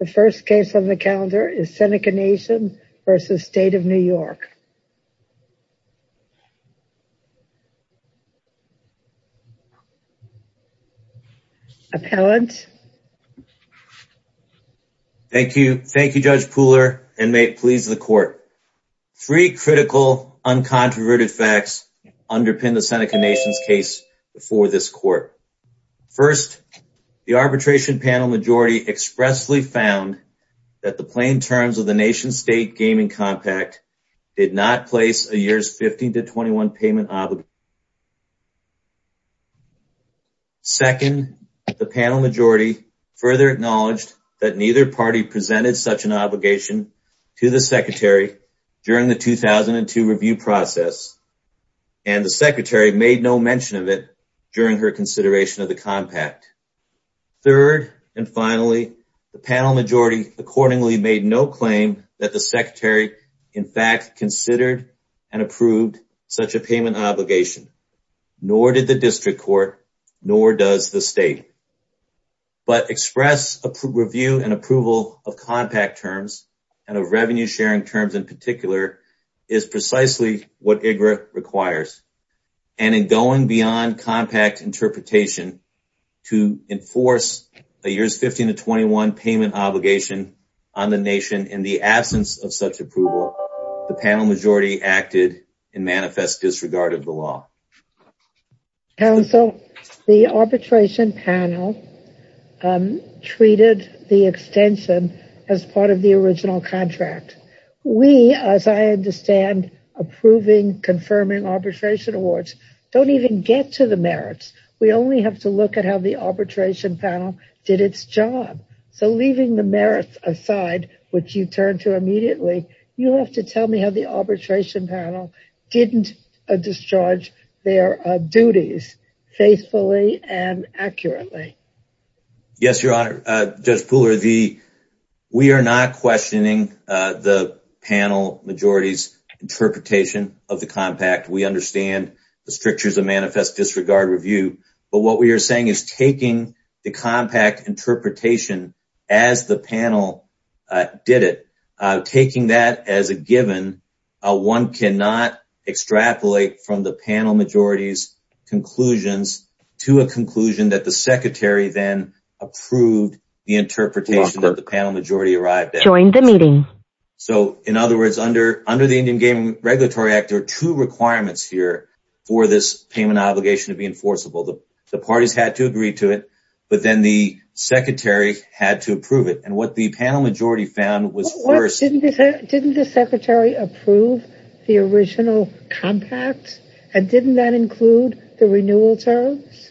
The first case on the calendar is Seneca Nation v. State of New York Appellant Thank you. Thank you, Judge Pooler, and may it please the court. Three critical, uncontroverted facts underpin the Seneca Nation's case before this court. First, the arbitration panel majority expressly found that the plain terms of the Nation State Gaming Compact did not place a year's 15 to 21 payment obligation. Second, the panel majority further acknowledged that neither party presented such an obligation to the Secretary during the 2002 review process, and the Secretary made no mention of it during her consideration of the compact. Third, and finally, the panel majority accordingly made no claim that the Secretary in fact considered and approved such a payment obligation, nor did the District Court, nor does the State. But express review and approval of compact terms, and of revenue-sharing terms in particular, is precisely what IGRA requires. And in going beyond compact interpretation to enforce a year's 15 to 21 payment obligation on the Nation in the absence of such approval, the panel majority acted and manifest disregard of the law. Counsel, the arbitration panel treated the extension as part of the original contract. We, as I understand approving, confirming arbitration awards, don't even get to the merits. We only have to look at how the arbitration panel did its job. So leaving the merits aside, which you turn to immediately, you'll have to tell me how the arbitration panel didn't discharge their duties faithfully and accurately. Yes, Your Honor. Judge Pooler, we are not questioning the panel majority's interpretation of the compact. We understand the strictures of manifest disregard review. But what we are saying is taking the compact interpretation as the panel did it, taking that as a given, one cannot extrapolate from the panel majority's conclusions to a conclusion that the Secretary then approved the interpretation that the panel majority arrived at. So, in other words, under the Indian Game Regulatory Act, there are two requirements here for this payment obligation to be enforceable. The parties had to agree to it, but then the Secretary had to approve it. And what the panel majority found was first… Didn't the Secretary approve the original compact? And didn't that include the renewal terms?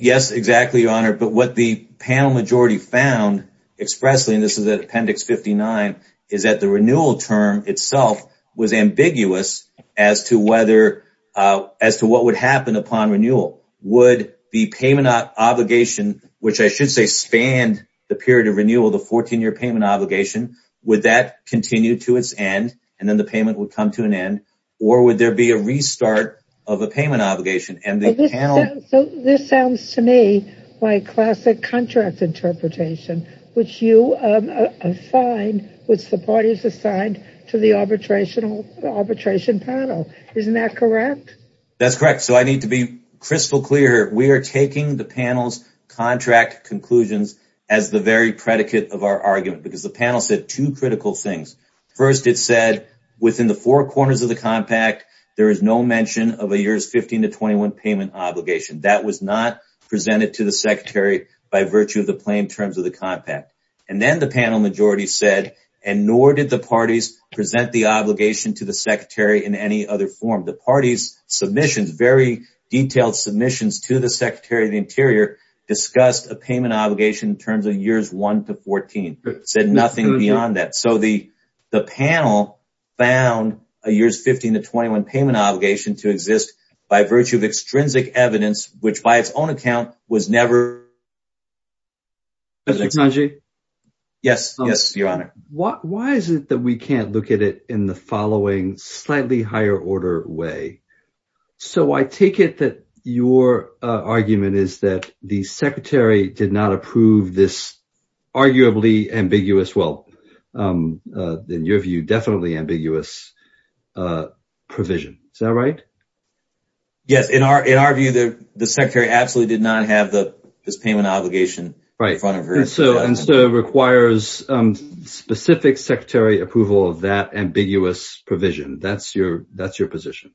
Yes, exactly, Your Honor. But what the panel majority found expressly, and this is at Appendix 59, is that the renewal term itself was ambiguous as to what would happen upon renewal. Would the payment obligation, which I should say spanned the period of renewal, the 14-year payment obligation, would that continue to its end and then the payment would come to an end? Or would there be a restart of a payment obligation? So, this sounds to me like classic contract interpretation, which you find, which the parties assigned to the arbitration panel. Isn't that correct? That's correct. So, I need to be crystal clear. We are taking the panel's contract conclusions as the very predicate of our argument because the panel said two critical things. First, it said, within the four corners of the compact, there is no mention of a years 15 to 21 payment obligation. That was not presented to the Secretary by virtue of the plain terms of the compact. And then the panel majority said, and nor did the parties present the obligation to the Secretary in any other form. The parties' submissions, very detailed submissions to the Secretary of the Interior, discussed a payment obligation in terms of years 1 to 14. It said nothing beyond that. So, the panel found a years 15 to 21 payment obligation to exist by virtue of extrinsic evidence, which, by its own account, was never presented. Mr. Tanji? Yes, yes, Your Honor. Why is it that we can't look at it in the following slightly higher order way? So, I take it that your argument is that the Secretary did not approve this arguably ambiguous – well, in your view, definitely ambiguous – provision. Is that right? Yes. In our view, the Secretary absolutely did not have this payment obligation in front of her. Right. And so, it requires specific Secretary approval of that ambiguous provision. That's your position.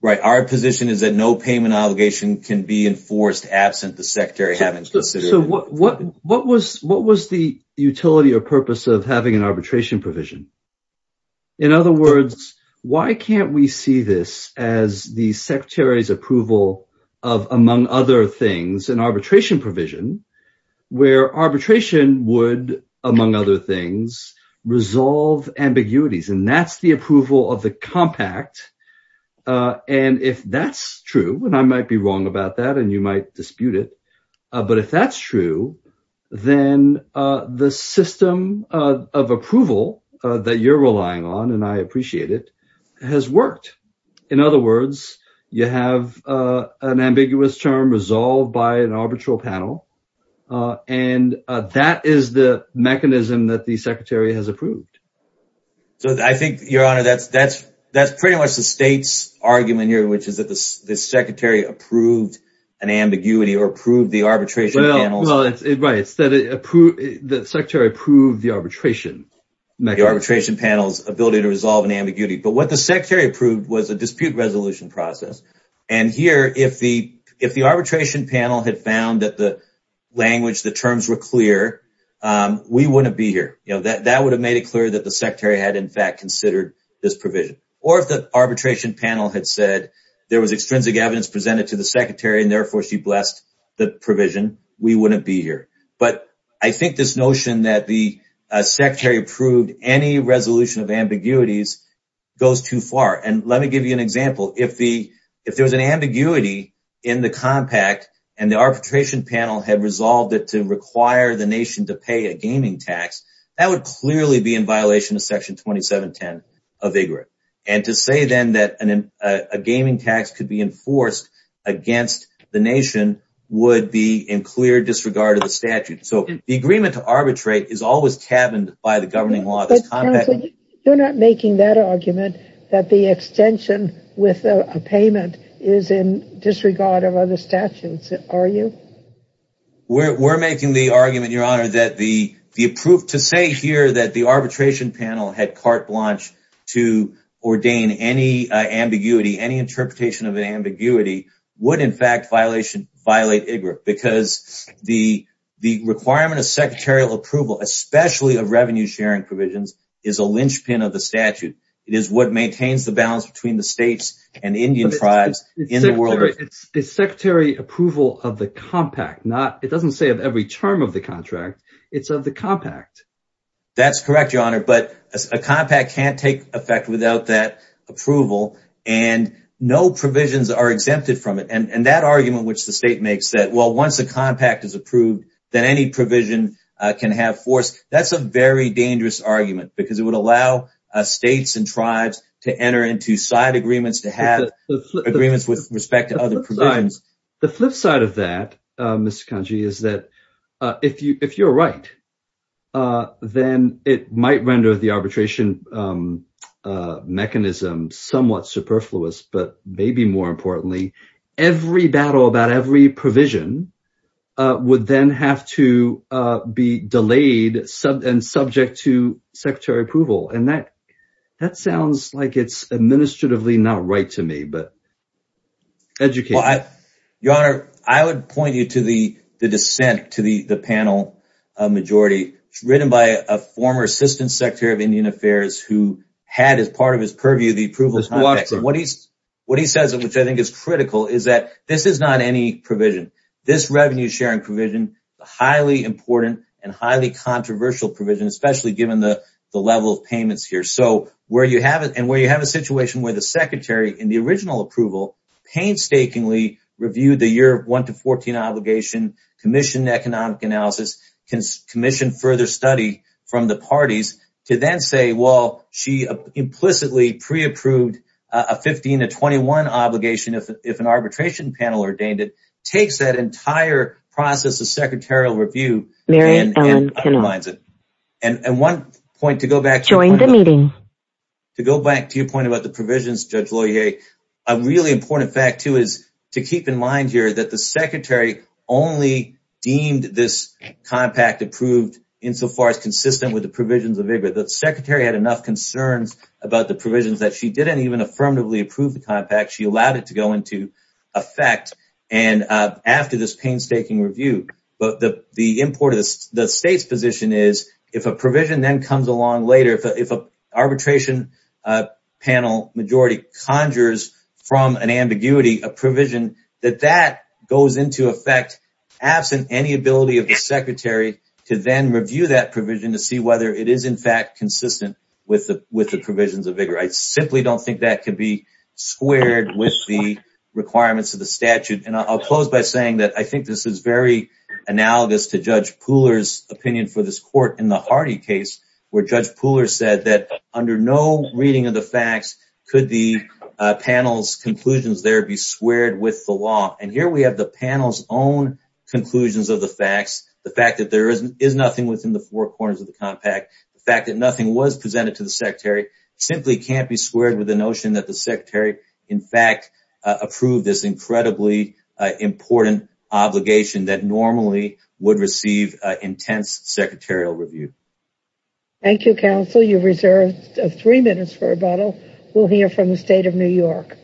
Right. Our position is that no payment obligation can be enforced absent the Secretary having considered it. So, what was the utility or purpose of having an arbitration provision? In other words, why can't we see this as the Secretary's approval of, among other things, an arbitration provision where arbitration would, among other things, resolve ambiguities? And that's the approval of the compact. And if that's true – and I might be wrong about that, and you might dispute it – but if that's true, then the system of approval that you're relying on, and I appreciate it, has worked. In other words, you have an ambiguous term resolved by an arbitral panel, and that is the mechanism that the Secretary has approved. So, I think, Your Honor, that's pretty much the state's argument here, which is that the Secretary approved an ambiguity or approved the arbitration panels. Well, it's that the Secretary approved the arbitration mechanism. The arbitration panels' ability to resolve an ambiguity. But what the Secretary approved was a dispute resolution process. And here, if the arbitration panel had found that the language, the terms were clear, we wouldn't be here. That would have made it clear that the Secretary had, in fact, considered this provision. Or if the arbitration panel had said there was extrinsic evidence presented to the Secretary, and therefore she blessed the provision, we wouldn't be here. But I think this notion that the Secretary approved any resolution of ambiguities goes too far. And let me give you an example. If there was an ambiguity in the compact and the arbitration panel had resolved it to require the nation to pay a gaming tax, that would clearly be in violation of Section 2710 of IGRA. And to say then that a gaming tax could be enforced against the nation would be in clear disregard of the statute. So, the agreement to arbitrate is always tabbed by the governing law. You're not making that argument that the extension with a payment is in disregard of other statutes, are you? We're making the argument, Your Honor, that to say here that the arbitration panel had carte blanche to ordain any ambiguity, any interpretation of an ambiguity, would in fact violate IGRA. Because the requirement of secretarial approval, especially of revenue-sharing provisions, is a linchpin of the statute. It is what maintains the balance between the states and Indian tribes in the world. But it's secretary approval of the compact. It doesn't say of every term of the contract. It's of the compact. That's correct, Your Honor. But a compact can't take effect without that approval. And no provisions are exempted from it. And that argument which the state makes that, well, once a compact is approved, then any provision can have force, that's a very dangerous argument. Because it would allow states and tribes to enter into side agreements, to have agreements with respect to other provisions. The flip side of that, Mr. Kanji, is that if you're right, then it might render the arbitration mechanism somewhat superfluous. But maybe more importantly, every battle about every provision would then have to be delayed and subject to secretary approval. And that sounds like it's administratively not right to me. Your Honor, I would point you to the dissent to the panel majority. It's written by a former Assistant Secretary of Indian Affairs who had as part of his purview the approval of the compact. What he says, which I think is critical, is that this is not any provision. This revenue-sharing provision is a highly important and highly controversial provision, especially given the level of payments here. And where you have a situation where the secretary in the original approval painstakingly reviewed the year 1 to 14 obligation, commissioned economic analysis, commissioned further study from the parties to then say, well, she implicitly pre-approved a 15 to 21 obligation if an arbitration panel ordained it, takes that entire process of secretarial review and undermines it. And one point to go back to. Join the meeting. To go back to your point about the provisions, Judge Loyer, a really important fact, too, is to keep in mind here that the secretary only deemed this compact approved insofar as consistent with the provisions of VIGRA. The secretary had enough concerns about the provisions that she didn't even affirmatively approve the compact. She allowed it to go into effect. And after this painstaking review, the state's position is if a provision then comes along later, if an arbitration panel majority conjures from an ambiguity a provision, that that goes into effect absent any ability of the secretary to then review that provision to see whether it is, in fact, consistent with the provisions of VIGRA. I simply don't think that could be squared with the requirements of the statute. And I'll close by saying that I think this is very analogous to Judge Pooler's opinion for this court in the Hardy case, where Judge Pooler said that under no reading of the facts could the panel's conclusions there be squared with the law. And here we have the panel's own conclusions of the facts. The fact that there is nothing within the four corners of the compact. The fact that nothing was presented to the secretary simply can't be squared with the notion that the secretary, in fact, approved this incredibly important obligation that normally would receive intense secretarial review. Thank you, counsel. You reserved three minutes for rebuttal. We'll hear from the state of New York.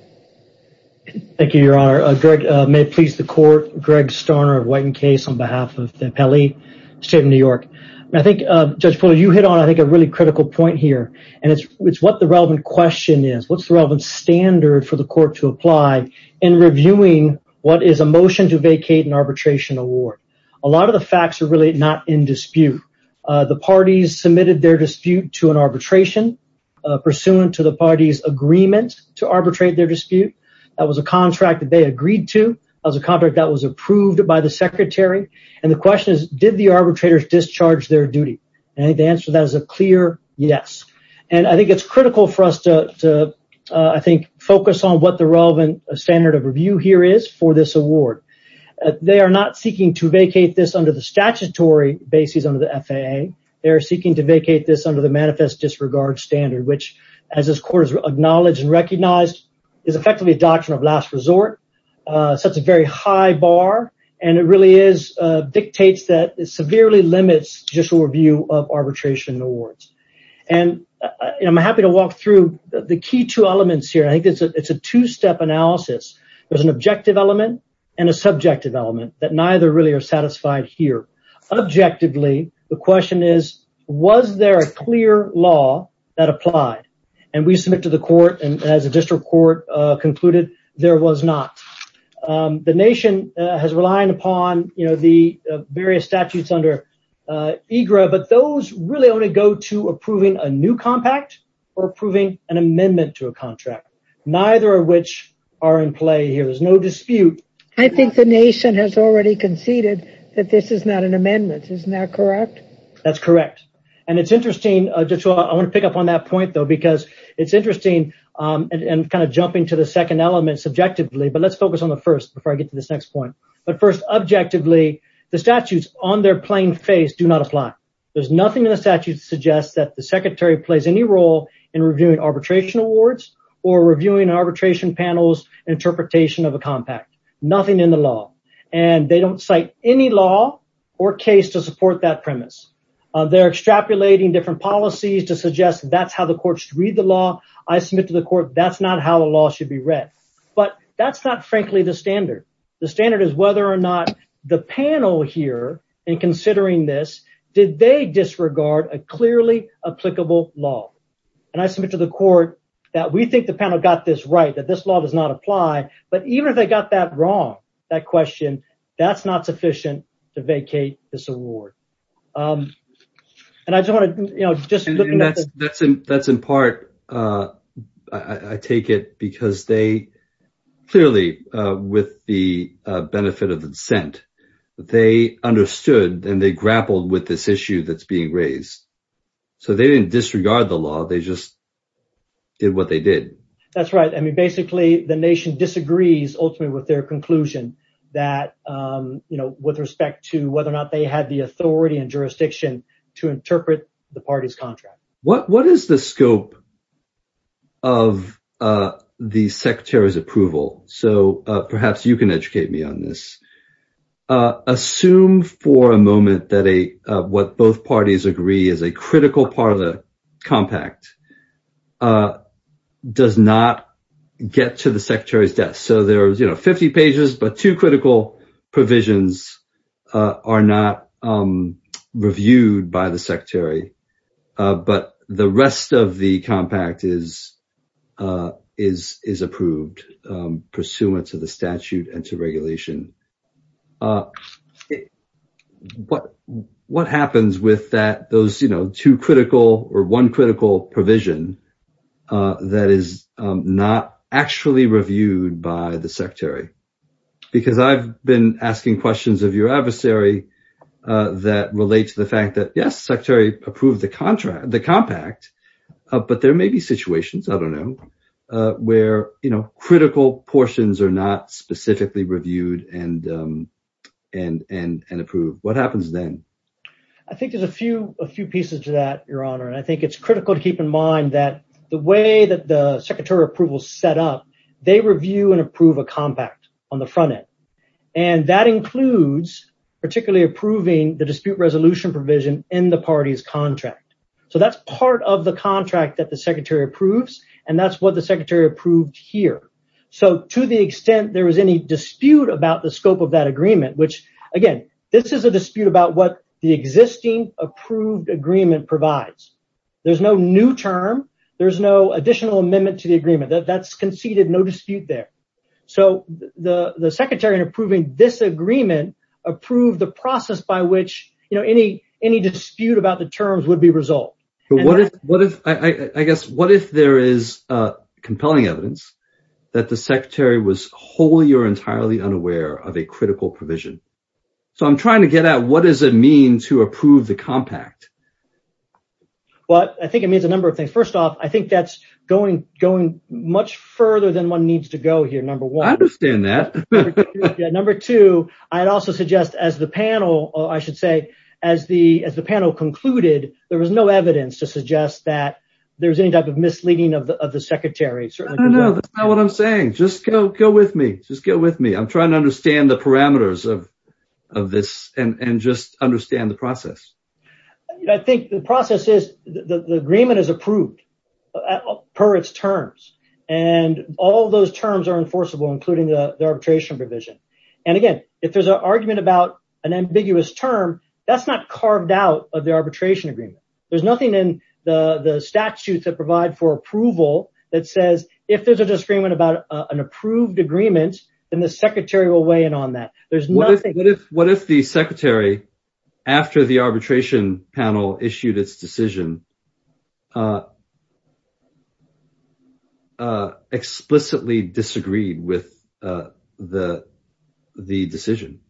Thank you, Your Honor. Greg, may it please the court. Greg Starner of Whiten Case on behalf of the appellee, state of New York. I think, Judge Pooler, you hit on, I think, a really critical point here. And it's what the relevant question is. What's the relevant standard for the court to apply in reviewing what is a motion to vacate an arbitration award? A lot of the facts are really not in dispute. The parties submitted their dispute to an arbitration pursuant to the party's agreement to arbitrate their dispute. That was a contract that they agreed to as a contract that was approved by the secretary. And the question is, did the arbitrators discharge their duty? And the answer to that is a clear yes. And I think it's critical for us to, I think, focus on what the relevant standard of review here is for this award. They are not seeking to vacate this under the statutory basis under the FAA. They are seeking to vacate this under the manifest disregard standard, which, as this court has acknowledged and recognized, is effectively a doctrine of last resort. It sets a very high bar. And it really dictates that it severely limits judicial review of arbitration awards. And I'm happy to walk through the key two elements here. I think it's a two-step analysis. There's an objective element and a subjective element that neither really are satisfied here. Objectively, the question is, was there a clear law that applied? And we submit to the court, and as a district court concluded, there was not. The nation has relied upon the various statutes under EGRA, but those really only go to approving a new compact or approving an amendment to a contract. Neither of which are in play here. There's no dispute. I think the nation has already conceded that this is not an amendment. Isn't that correct? That's correct. And it's interesting. I want to pick up on that point, though, because it's interesting and kind of jumping to the second element subjectively, but let's focus on the first before I get to this next point. But first, objectively, the statutes on their plain face do not apply. There's nothing in the statute that suggests that the secretary plays any role in reviewing arbitration awards or reviewing arbitration panels and interpretation of a compact. Nothing in the law. And they don't cite any law or case to support that premise. They're extrapolating different policies to suggest that's how the court should read the law. I submit to the court that's not how the law should be read. But that's not, frankly, the standard. The standard is whether or not the panel here, in considering this, did they disregard a clearly applicable law. And I submit to the court that we think the panel got this right, that this law does not apply. But even if they got that wrong, that question, that's not sufficient to vacate this award. And I just want to, you know, just look at that. That's in part, I take it, because they clearly, with the benefit of the dissent, they understood and they grappled with this issue that's being raised. So they didn't disregard the law. They just did what they did. That's right. I mean, basically, the nation disagrees ultimately with their conclusion that, you know, with respect to whether or not they had the authority and jurisdiction to interpret the party's contract. What is the scope of the secretary's approval? So perhaps you can educate me on this. Assume for a moment that what both parties agree is a critical part of the compact does not get to the secretary's desk. So there are, you know, 50 pages, but two critical provisions are not reviewed by the secretary. But the rest of the compact is is is approved pursuant to the statute and to regulation. But what happens with that? Those, you know, two critical or one critical provision that is not actually reviewed by the secretary, because I've been asking questions of your adversary that relate to the fact that, yes, secretary approved the contract, the compact. But there may be situations, I don't know, where, you know, critical portions are not specifically reviewed and and and approved. What happens then? I think there's a few a few pieces to that, Your Honor. And I think it's critical to keep in mind that the way that the secretary approval set up, they review and approve a compact on the front end. And that includes particularly approving the dispute resolution provision in the party's contract. So that's part of the contract that the secretary approves. And that's what the secretary approved here. So to the extent there is any dispute about the scope of that agreement, which, again, this is a dispute about what the existing approved agreement provides. There's no new term. There's no additional amendment to the agreement that's conceded. No dispute there. So the secretary approving this agreement approved the process by which, you know, any, any dispute about the terms would be resolved. I guess what if there is compelling evidence that the secretary was wholly or entirely unaware of a critical provision? So I'm trying to get at what does it mean to approve the compact? Well, I think it means a number of things. First off, I think that's going going much further than one needs to go here. Number one, I understand that. Number two, I'd also suggest as the panel, I should say as the as the panel concluded, there was no evidence to suggest that there was any type of misleading of the secretary. No, that's not what I'm saying. Just go. Go with me. Just go with me. I'm trying to understand the parameters of this and just understand the process. I think the process is the agreement is approved per its terms. And all those terms are enforceable, including the arbitration provision. And again, if there's an argument about an ambiguous term, that's not carved out of the arbitration agreement. There's nothing in the statutes that provide for approval that says if there's a disagreement about an approved agreement, then the secretary will weigh in on that. There's nothing. What if what if the secretary after the arbitration panel issued its decision? Explicitly disagreed with the the decision.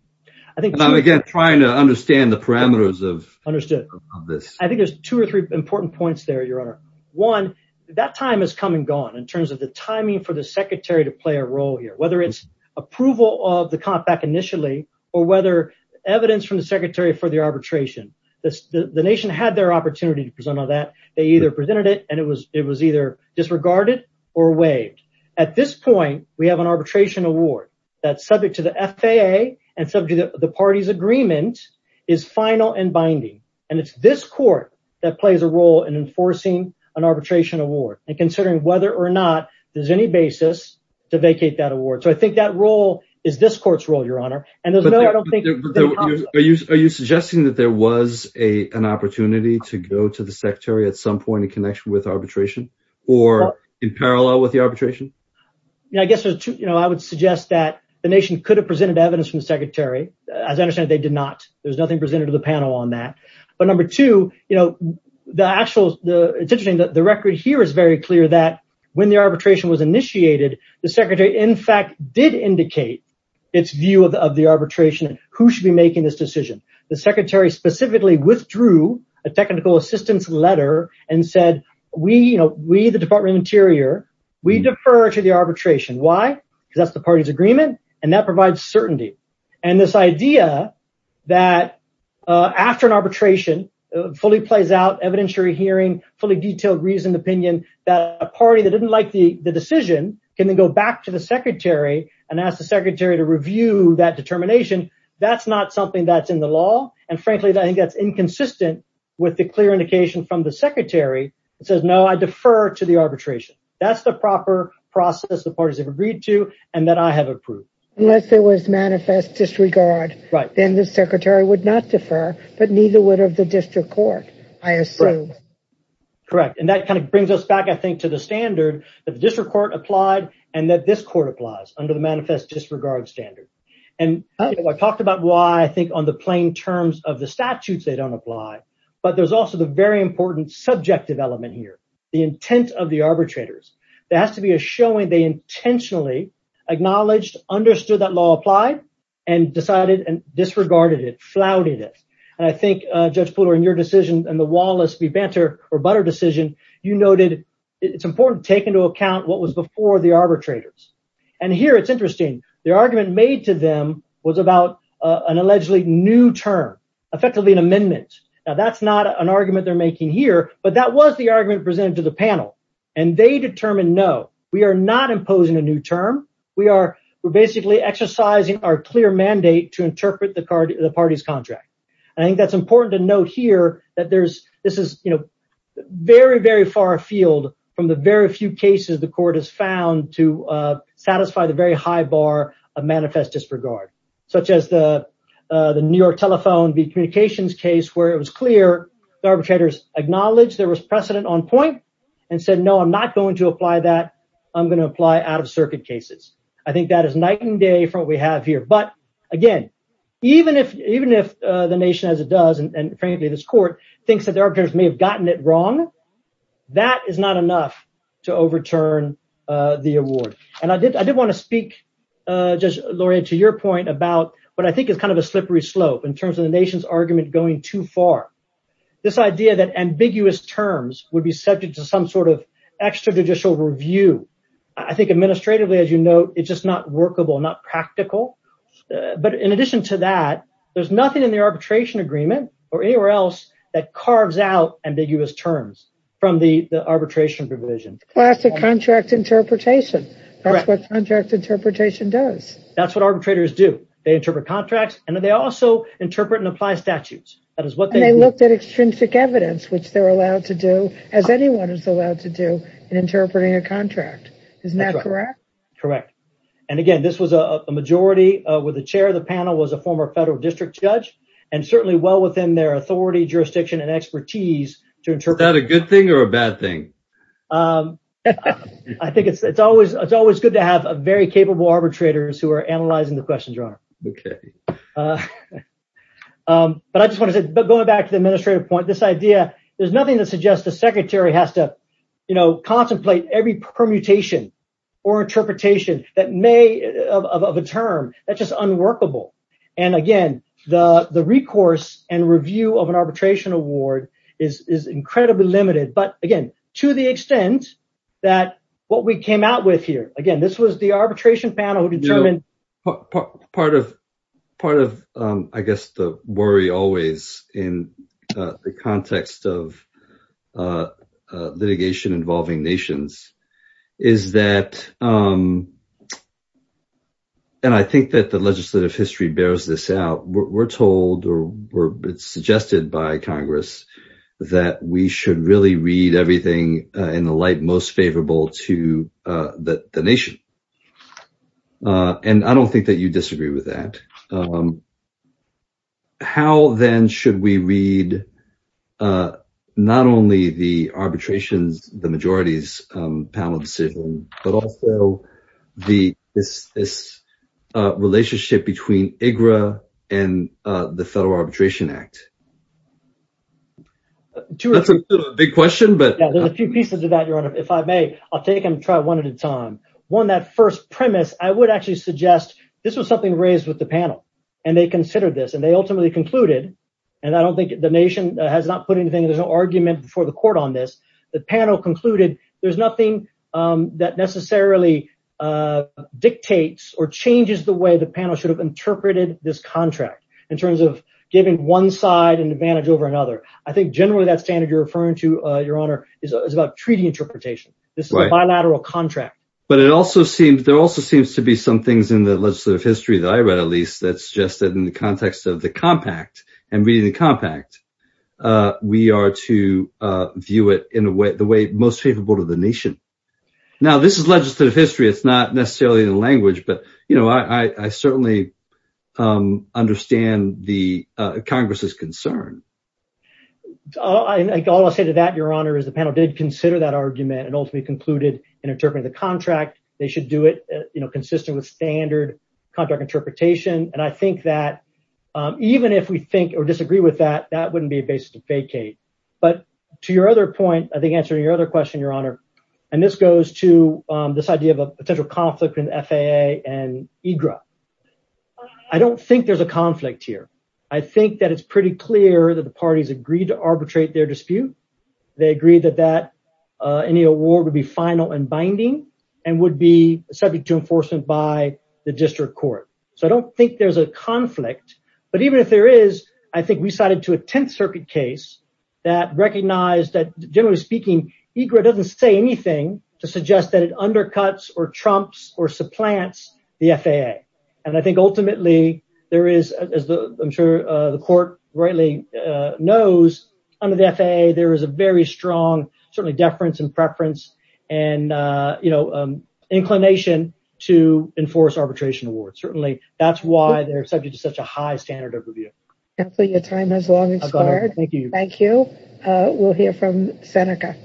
I think I'm again trying to understand the parameters of understood this. I think there's two or three important points there, Your Honor. One, that time has come and gone in terms of the timing for the secretary to play a role here, whether it's approval of the compact initially or whether evidence from the secretary for the arbitration. The nation had their opportunity to present on that. They either presented it and it was it was either disregarded or waived. At this point, we have an arbitration award that subject to the FAA and subject to the party's agreement is final and binding. And it's this court that plays a role in enforcing an arbitration award and considering whether or not there's any basis to vacate that award. So I think that role is this court's role, Your Honor. And I don't think. Are you suggesting that there was a an opportunity to go to the secretary at some point in connection with arbitration or in parallel with the arbitration? I guess, you know, I would suggest that the nation could have presented evidence from the secretary. As I understand it, they did not. There's nothing presented to the panel on that. But number two, you know, the actual the decision that the record here is very clear that when the arbitration was initiated, the secretary, in fact, did indicate its view of the arbitration and who should be making this decision. The secretary specifically withdrew a technical assistance letter and said, we, you know, we, the Department of Interior, we defer to the arbitration. Why? Because that's the party's agreement. And that provides certainty. And this idea that after an arbitration fully plays out, evidentiary hearing, fully detailed reasoned opinion, that a party that didn't like the decision can then go back to the secretary and ask the secretary to review that determination. That's not something that's in the law. And frankly, I think that's inconsistent with the clear indication from the secretary. It says, no, I defer to the arbitration. That's the proper process the parties have agreed to and that I have approved. Unless there was manifest disregard, then the secretary would not defer, but neither would have the district court, I assume. Correct. And that kind of brings us back, I think, to the standard that the district court applied and that this court applies under the manifest disregard standard. And I talked about why I think on the plain terms of the statutes, they don't apply. But there's also the very important subjective element here, the intent of the arbitrators. There has to be a showing they intentionally acknowledged, understood that law applied and decided and disregarded it, flouted it. And I think, Judge Pooler, in your decision and the Wallace v. Banter or Butter decision, you noted it's important to take into account what was before the arbitrators. And here it's interesting. The argument made to them was about an allegedly new term, effectively an amendment. Now, that's not an argument they're making here, but that was the argument presented to the panel and they determined, no, we are not imposing a new term. We are we're basically exercising our clear mandate to interpret the parties contract. I think that's important to note here that there's this is, you know, very, very far afield from the very few cases the court has found to satisfy the very high bar of manifest disregard, such as the the New York Telephone v. Communications case, where it was clear the arbitrators acknowledged there was precedent on point and said, no, I'm not going to apply that. I'm going to apply out of circuit cases. I think that is night and day from what we have here. But again, even if even if the nation, as it does, and frankly, this court thinks that the arbitrators may have gotten it wrong, that is not enough to overturn the award. And I did I did want to speak, just Laurie, to your point about what I think is kind of a slippery slope in terms of the nation's argument going too far. This idea that ambiguous terms would be subject to some sort of extrajudicial review. I think administratively, as you know, it's just not workable, not practical. But in addition to that, there's nothing in the arbitration agreement or anywhere else that carves out ambiguous terms from the arbitration provision. Classic contract interpretation. That's what contract interpretation does. That's what arbitrators do. They interpret contracts and they also interpret and apply statutes. That is what they looked at. Extrinsic evidence, which they're allowed to do, as anyone is allowed to do in interpreting a contract. Isn't that correct? Correct. And again, this was a majority with the chair. The panel was a former federal district judge and certainly well within their authority, jurisdiction and expertise to interpret that a good thing or a bad thing. I think it's always good to have a very capable arbitrators who are analyzing the questions. But I just want to say, going back to the administrative point, this idea. There's nothing that suggests the secretary has to, you know, contemplate every permutation or interpretation that may of a term that's just unworkable. And again, the recourse and review of an arbitration award is incredibly limited. But again, to the extent that what we came out with here, again, this was the arbitration panel determined. Part of part of, I guess, the worry always in the context of litigation involving nations is that. And I think that the legislative history bears this out. We're told or it's suggested by Congress that we should really read everything in the light most favorable to the nation. And I don't think that you disagree with that. How, then, should we read not only the arbitrations, the majorities panel decision, but also the this this relationship between IGRA and the Federal Arbitration Act? That's a big question, but there's a few pieces of that. If I may, I'll take and try one at a time. One, that first premise, I would actually suggest this was something raised with the panel and they considered this and they ultimately concluded. And I don't think the nation has not put anything. There's no argument for the court on this. The panel concluded there's nothing that necessarily dictates or changes the way the panel should have interpreted this contract in terms of giving one side an advantage over another. I think generally that standard you're referring to, Your Honor, is about treaty interpretation. This is a bilateral contract. But it also seems there also seems to be some things in the legislative history that I read, at least, that suggested in the context of the compact and reading the compact. We are to view it in the way the way most favorable to the nation. Now, this is legislative history. It's not necessarily the language, but, you know, I certainly understand the Congress's concern. All I say to that, Your Honor, is the panel did consider that argument and ultimately concluded in interpreting the contract. They should do it, you know, consistent with standard contract interpretation. And I think that even if we think or disagree with that, that wouldn't be a basis to vacate. But to your other point, I think answering your other question, Your Honor, and this goes to this idea of a potential conflict in FAA and EGRA. I don't think there's a conflict here. I think that it's pretty clear that the parties agreed to arbitrate their dispute. They agreed that any award would be final and binding and would be subject to enforcement by the district court. So I don't think there's a conflict. But even if there is, I think we cited to a Tenth Circuit case that recognized that, generally speaking, EGRA doesn't say anything to suggest that it undercuts or trumps or supplants the FAA. And I think ultimately there is, as I'm sure the court rightly knows, under the FAA, there is a very strong, certainly, deference and preference and, you know, inclination to enforce arbitration awards. Certainly, that's why they're subject to such a high standard of review. Counselor, your time has long expired. Thank you. Thank you. We'll hear from Seneca.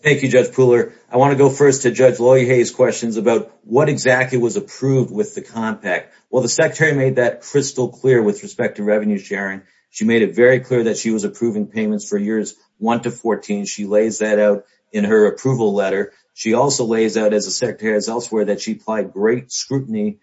Thank you, Judge Pooler. I want to go first to Judge Loye Hayes' questions about what exactly was approved with the compact. Well, the Secretary made that crystal clear with respect to revenue sharing. She made it very clear that she was approving payments for years 1 to 14. She lays that out in her approval letter. She also lays out, as the Secretary has elsewhere, that she applied great scrutiny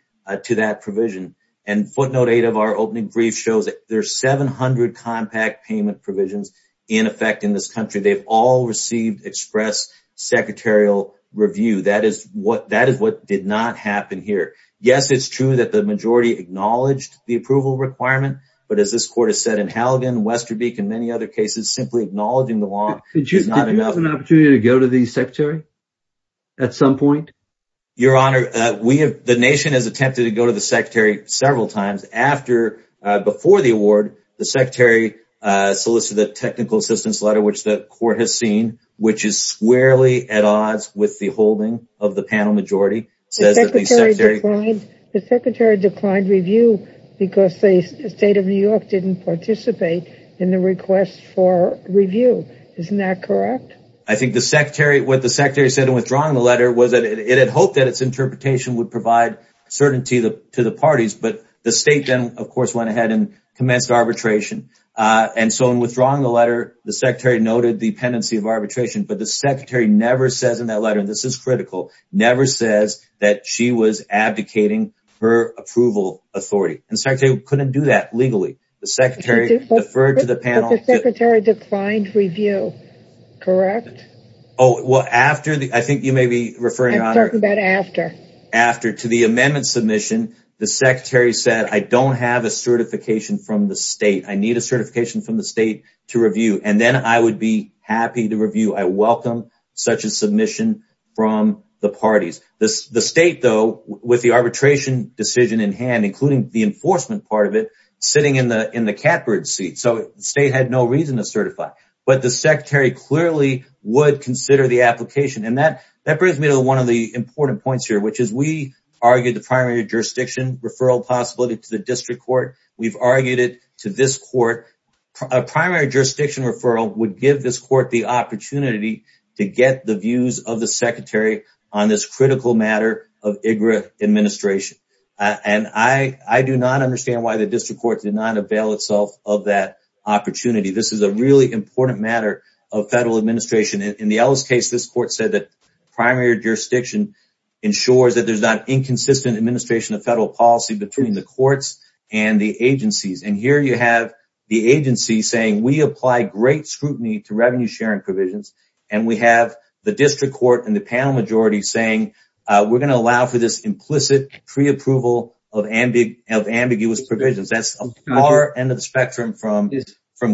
to that provision. And footnote 8 of our opening brief shows that there are 700 compact payment provisions in effect in this country. They've all received express secretarial review. That is what did not happen here. Yes, it's true that the majority acknowledged the approval requirement. But as this court has said in Halligan, Westerbeek, and many other cases, simply acknowledging the law is not enough. Did you have an opportunity to go to the Secretary at some point? Your Honor, the nation has attempted to go to the Secretary several times. Before the award, the Secretary solicited a technical assistance letter, which the court has seen, which is squarely at odds with the holding of the panel majority. The Secretary declined review because the State of New York didn't participate in the request for review. Isn't that correct? I think what the Secretary said in withdrawing the letter was that it had hoped that its interpretation would provide certainty to the parties. But the State then, of course, went ahead and commenced arbitration. And so in withdrawing the letter, the Secretary noted the tendency of arbitration. But the Secretary never says in that letter, and this is critical, never says that she was abdicating her approval authority. The Secretary couldn't do that legally. The Secretary deferred to the panel. But the Secretary declined review, correct? I think you may be referring, Your Honor. I'm talking about after. After, to the amendment submission, the Secretary said, I don't have a certification from the State. I need a certification from the State to review. And then I would be happy to review. I welcome such a submission from the parties. The State, though, with the arbitration decision in hand, including the enforcement part of it, sitting in the catbird seat. So the State had no reason to certify. But the Secretary clearly would consider the application. And that brings me to one of the important points here, which is we argued the primary jurisdiction referral possibility to the district court. We've argued it to this court. A primary jurisdiction referral would give this court the opportunity to get the views of the Secretary on this critical matter of IGRA administration. And I do not understand why the district court did not avail itself of that opportunity. This is a really important matter of federal administration. In the Ellis case, this court said that primary jurisdiction ensures that there's not inconsistent administration of federal policy between the courts and the agencies. And here you have the agency saying we apply great scrutiny to revenue sharing provisions. And we have the district court and the panel majority saying we're going to allow for this implicit preapproval of ambiguous provisions. That's far end of the spectrum from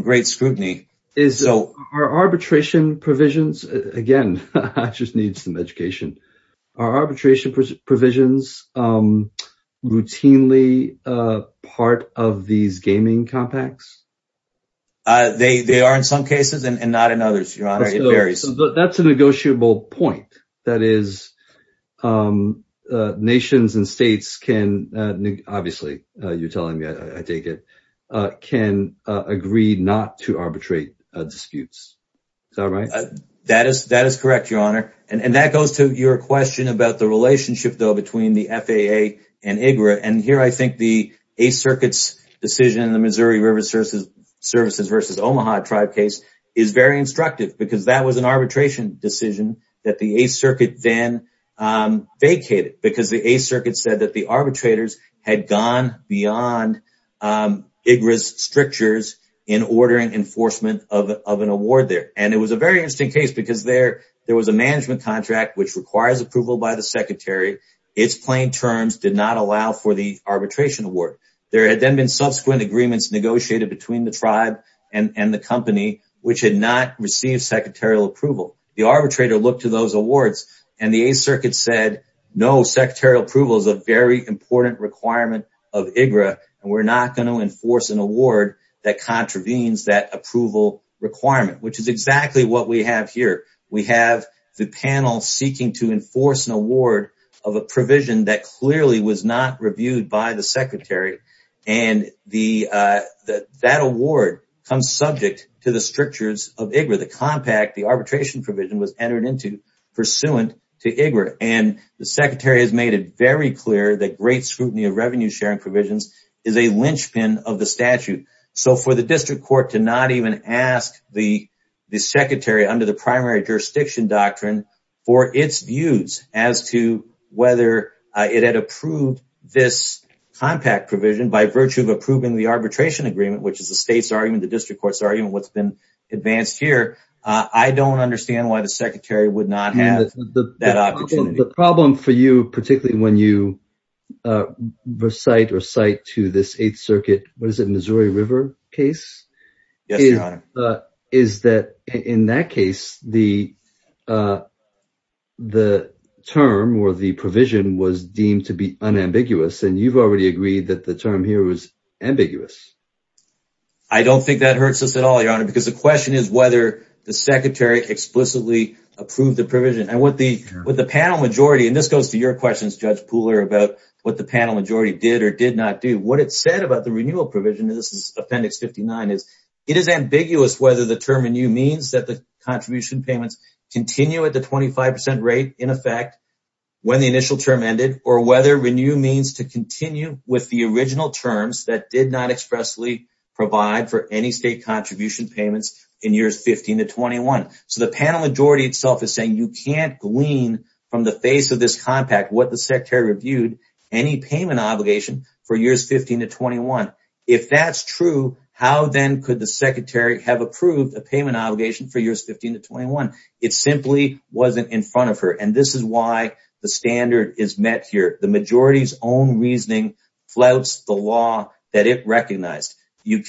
great scrutiny. Are arbitration provisions, again, I just need some education. Are arbitration provisions routinely part of these gaming compacts? They are in some cases and not in others, Your Honor. That's a negotiable point. That is, nations and states can, obviously, you're telling me I take it, can agree not to arbitrate disputes. Is that right? That is correct, Your Honor. And that goes to your question about the relationship, though, between the FAA and IGRA. And here I think the Eighth Circuit's decision in the Missouri River Services versus Omaha tribe case is very instructive. Because that was an arbitration decision that the Eighth Circuit then vacated. Because the Eighth Circuit said that the arbitrators had gone beyond IGRA's strictures in ordering enforcement of an award there. And it was a very interesting case because there was a management contract which requires approval by the secretary. Its plain terms did not allow for the arbitration award. There had then been subsequent agreements negotiated between the tribe and the company which had not received secretarial approval. The arbitrator looked to those awards and the Eighth Circuit said, no, secretarial approval is a very important requirement of IGRA. And we're not going to enforce an award that contravenes that approval requirement, which is exactly what we have here. We have the panel seeking to enforce an award of a provision that clearly was not reviewed by the secretary. And that award comes subject to the strictures of IGRA. The compact, the arbitration provision, was entered into pursuant to IGRA. And the secretary has made it very clear that great scrutiny of revenue sharing provisions is a linchpin of the statute. So for the district court to not even ask the secretary under the primary jurisdiction doctrine for its views as to whether it had approved this compact provision by virtue of approving the arbitration agreement, which is the state's argument, the district court's argument, what's been advanced here, I don't understand why the secretary would not have that opportunity. The problem for you, particularly when you recite or cite to this Eighth Circuit, what is it, Missouri River case? Yes, Your Honor. Is that in that case, the term or the provision was deemed to be unambiguous. And you've already agreed that the term here was ambiguous. I don't think that hurts us at all, Your Honor, because the question is whether the secretary explicitly approved the provision. And what the panel majority, and this goes to your questions, Judge Pooler, about what the panel majority did or did not do. What it said about the renewal provision, and this is Appendix 59, is it is ambiguous whether the term renew means that the contribution payments continue at the 25% rate in effect when the initial term ended, or whether renew means to continue with the original terms that did not expressly provide for any state contribution payments in years 15 to 21. So the panel majority itself is saying you can't glean from the face of this compact what the secretary reviewed, any payment obligation for years 15 to 21. If that's true, how then could the secretary have approved a payment obligation for years 15 to 21? It simply wasn't in front of her. And this is why the standard is met here. The majority's own reasoning flouts the law that it recognized. We'll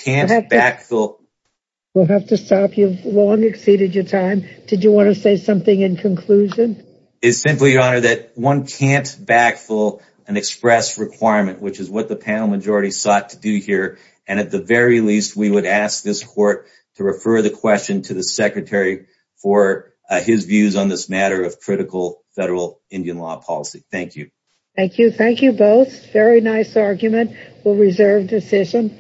have to stop. You've long exceeded your time. Did you want to say something in conclusion? It's simply, Your Honor, that one can't backfill an express requirement, which is what the panel majority sought to do here. And at the very least, we would ask this court to refer the question to the secretary for his views on this matter of critical federal Indian law policy. Thank you. Thank you. Thank you both. Very nice argument. We'll reserve the session.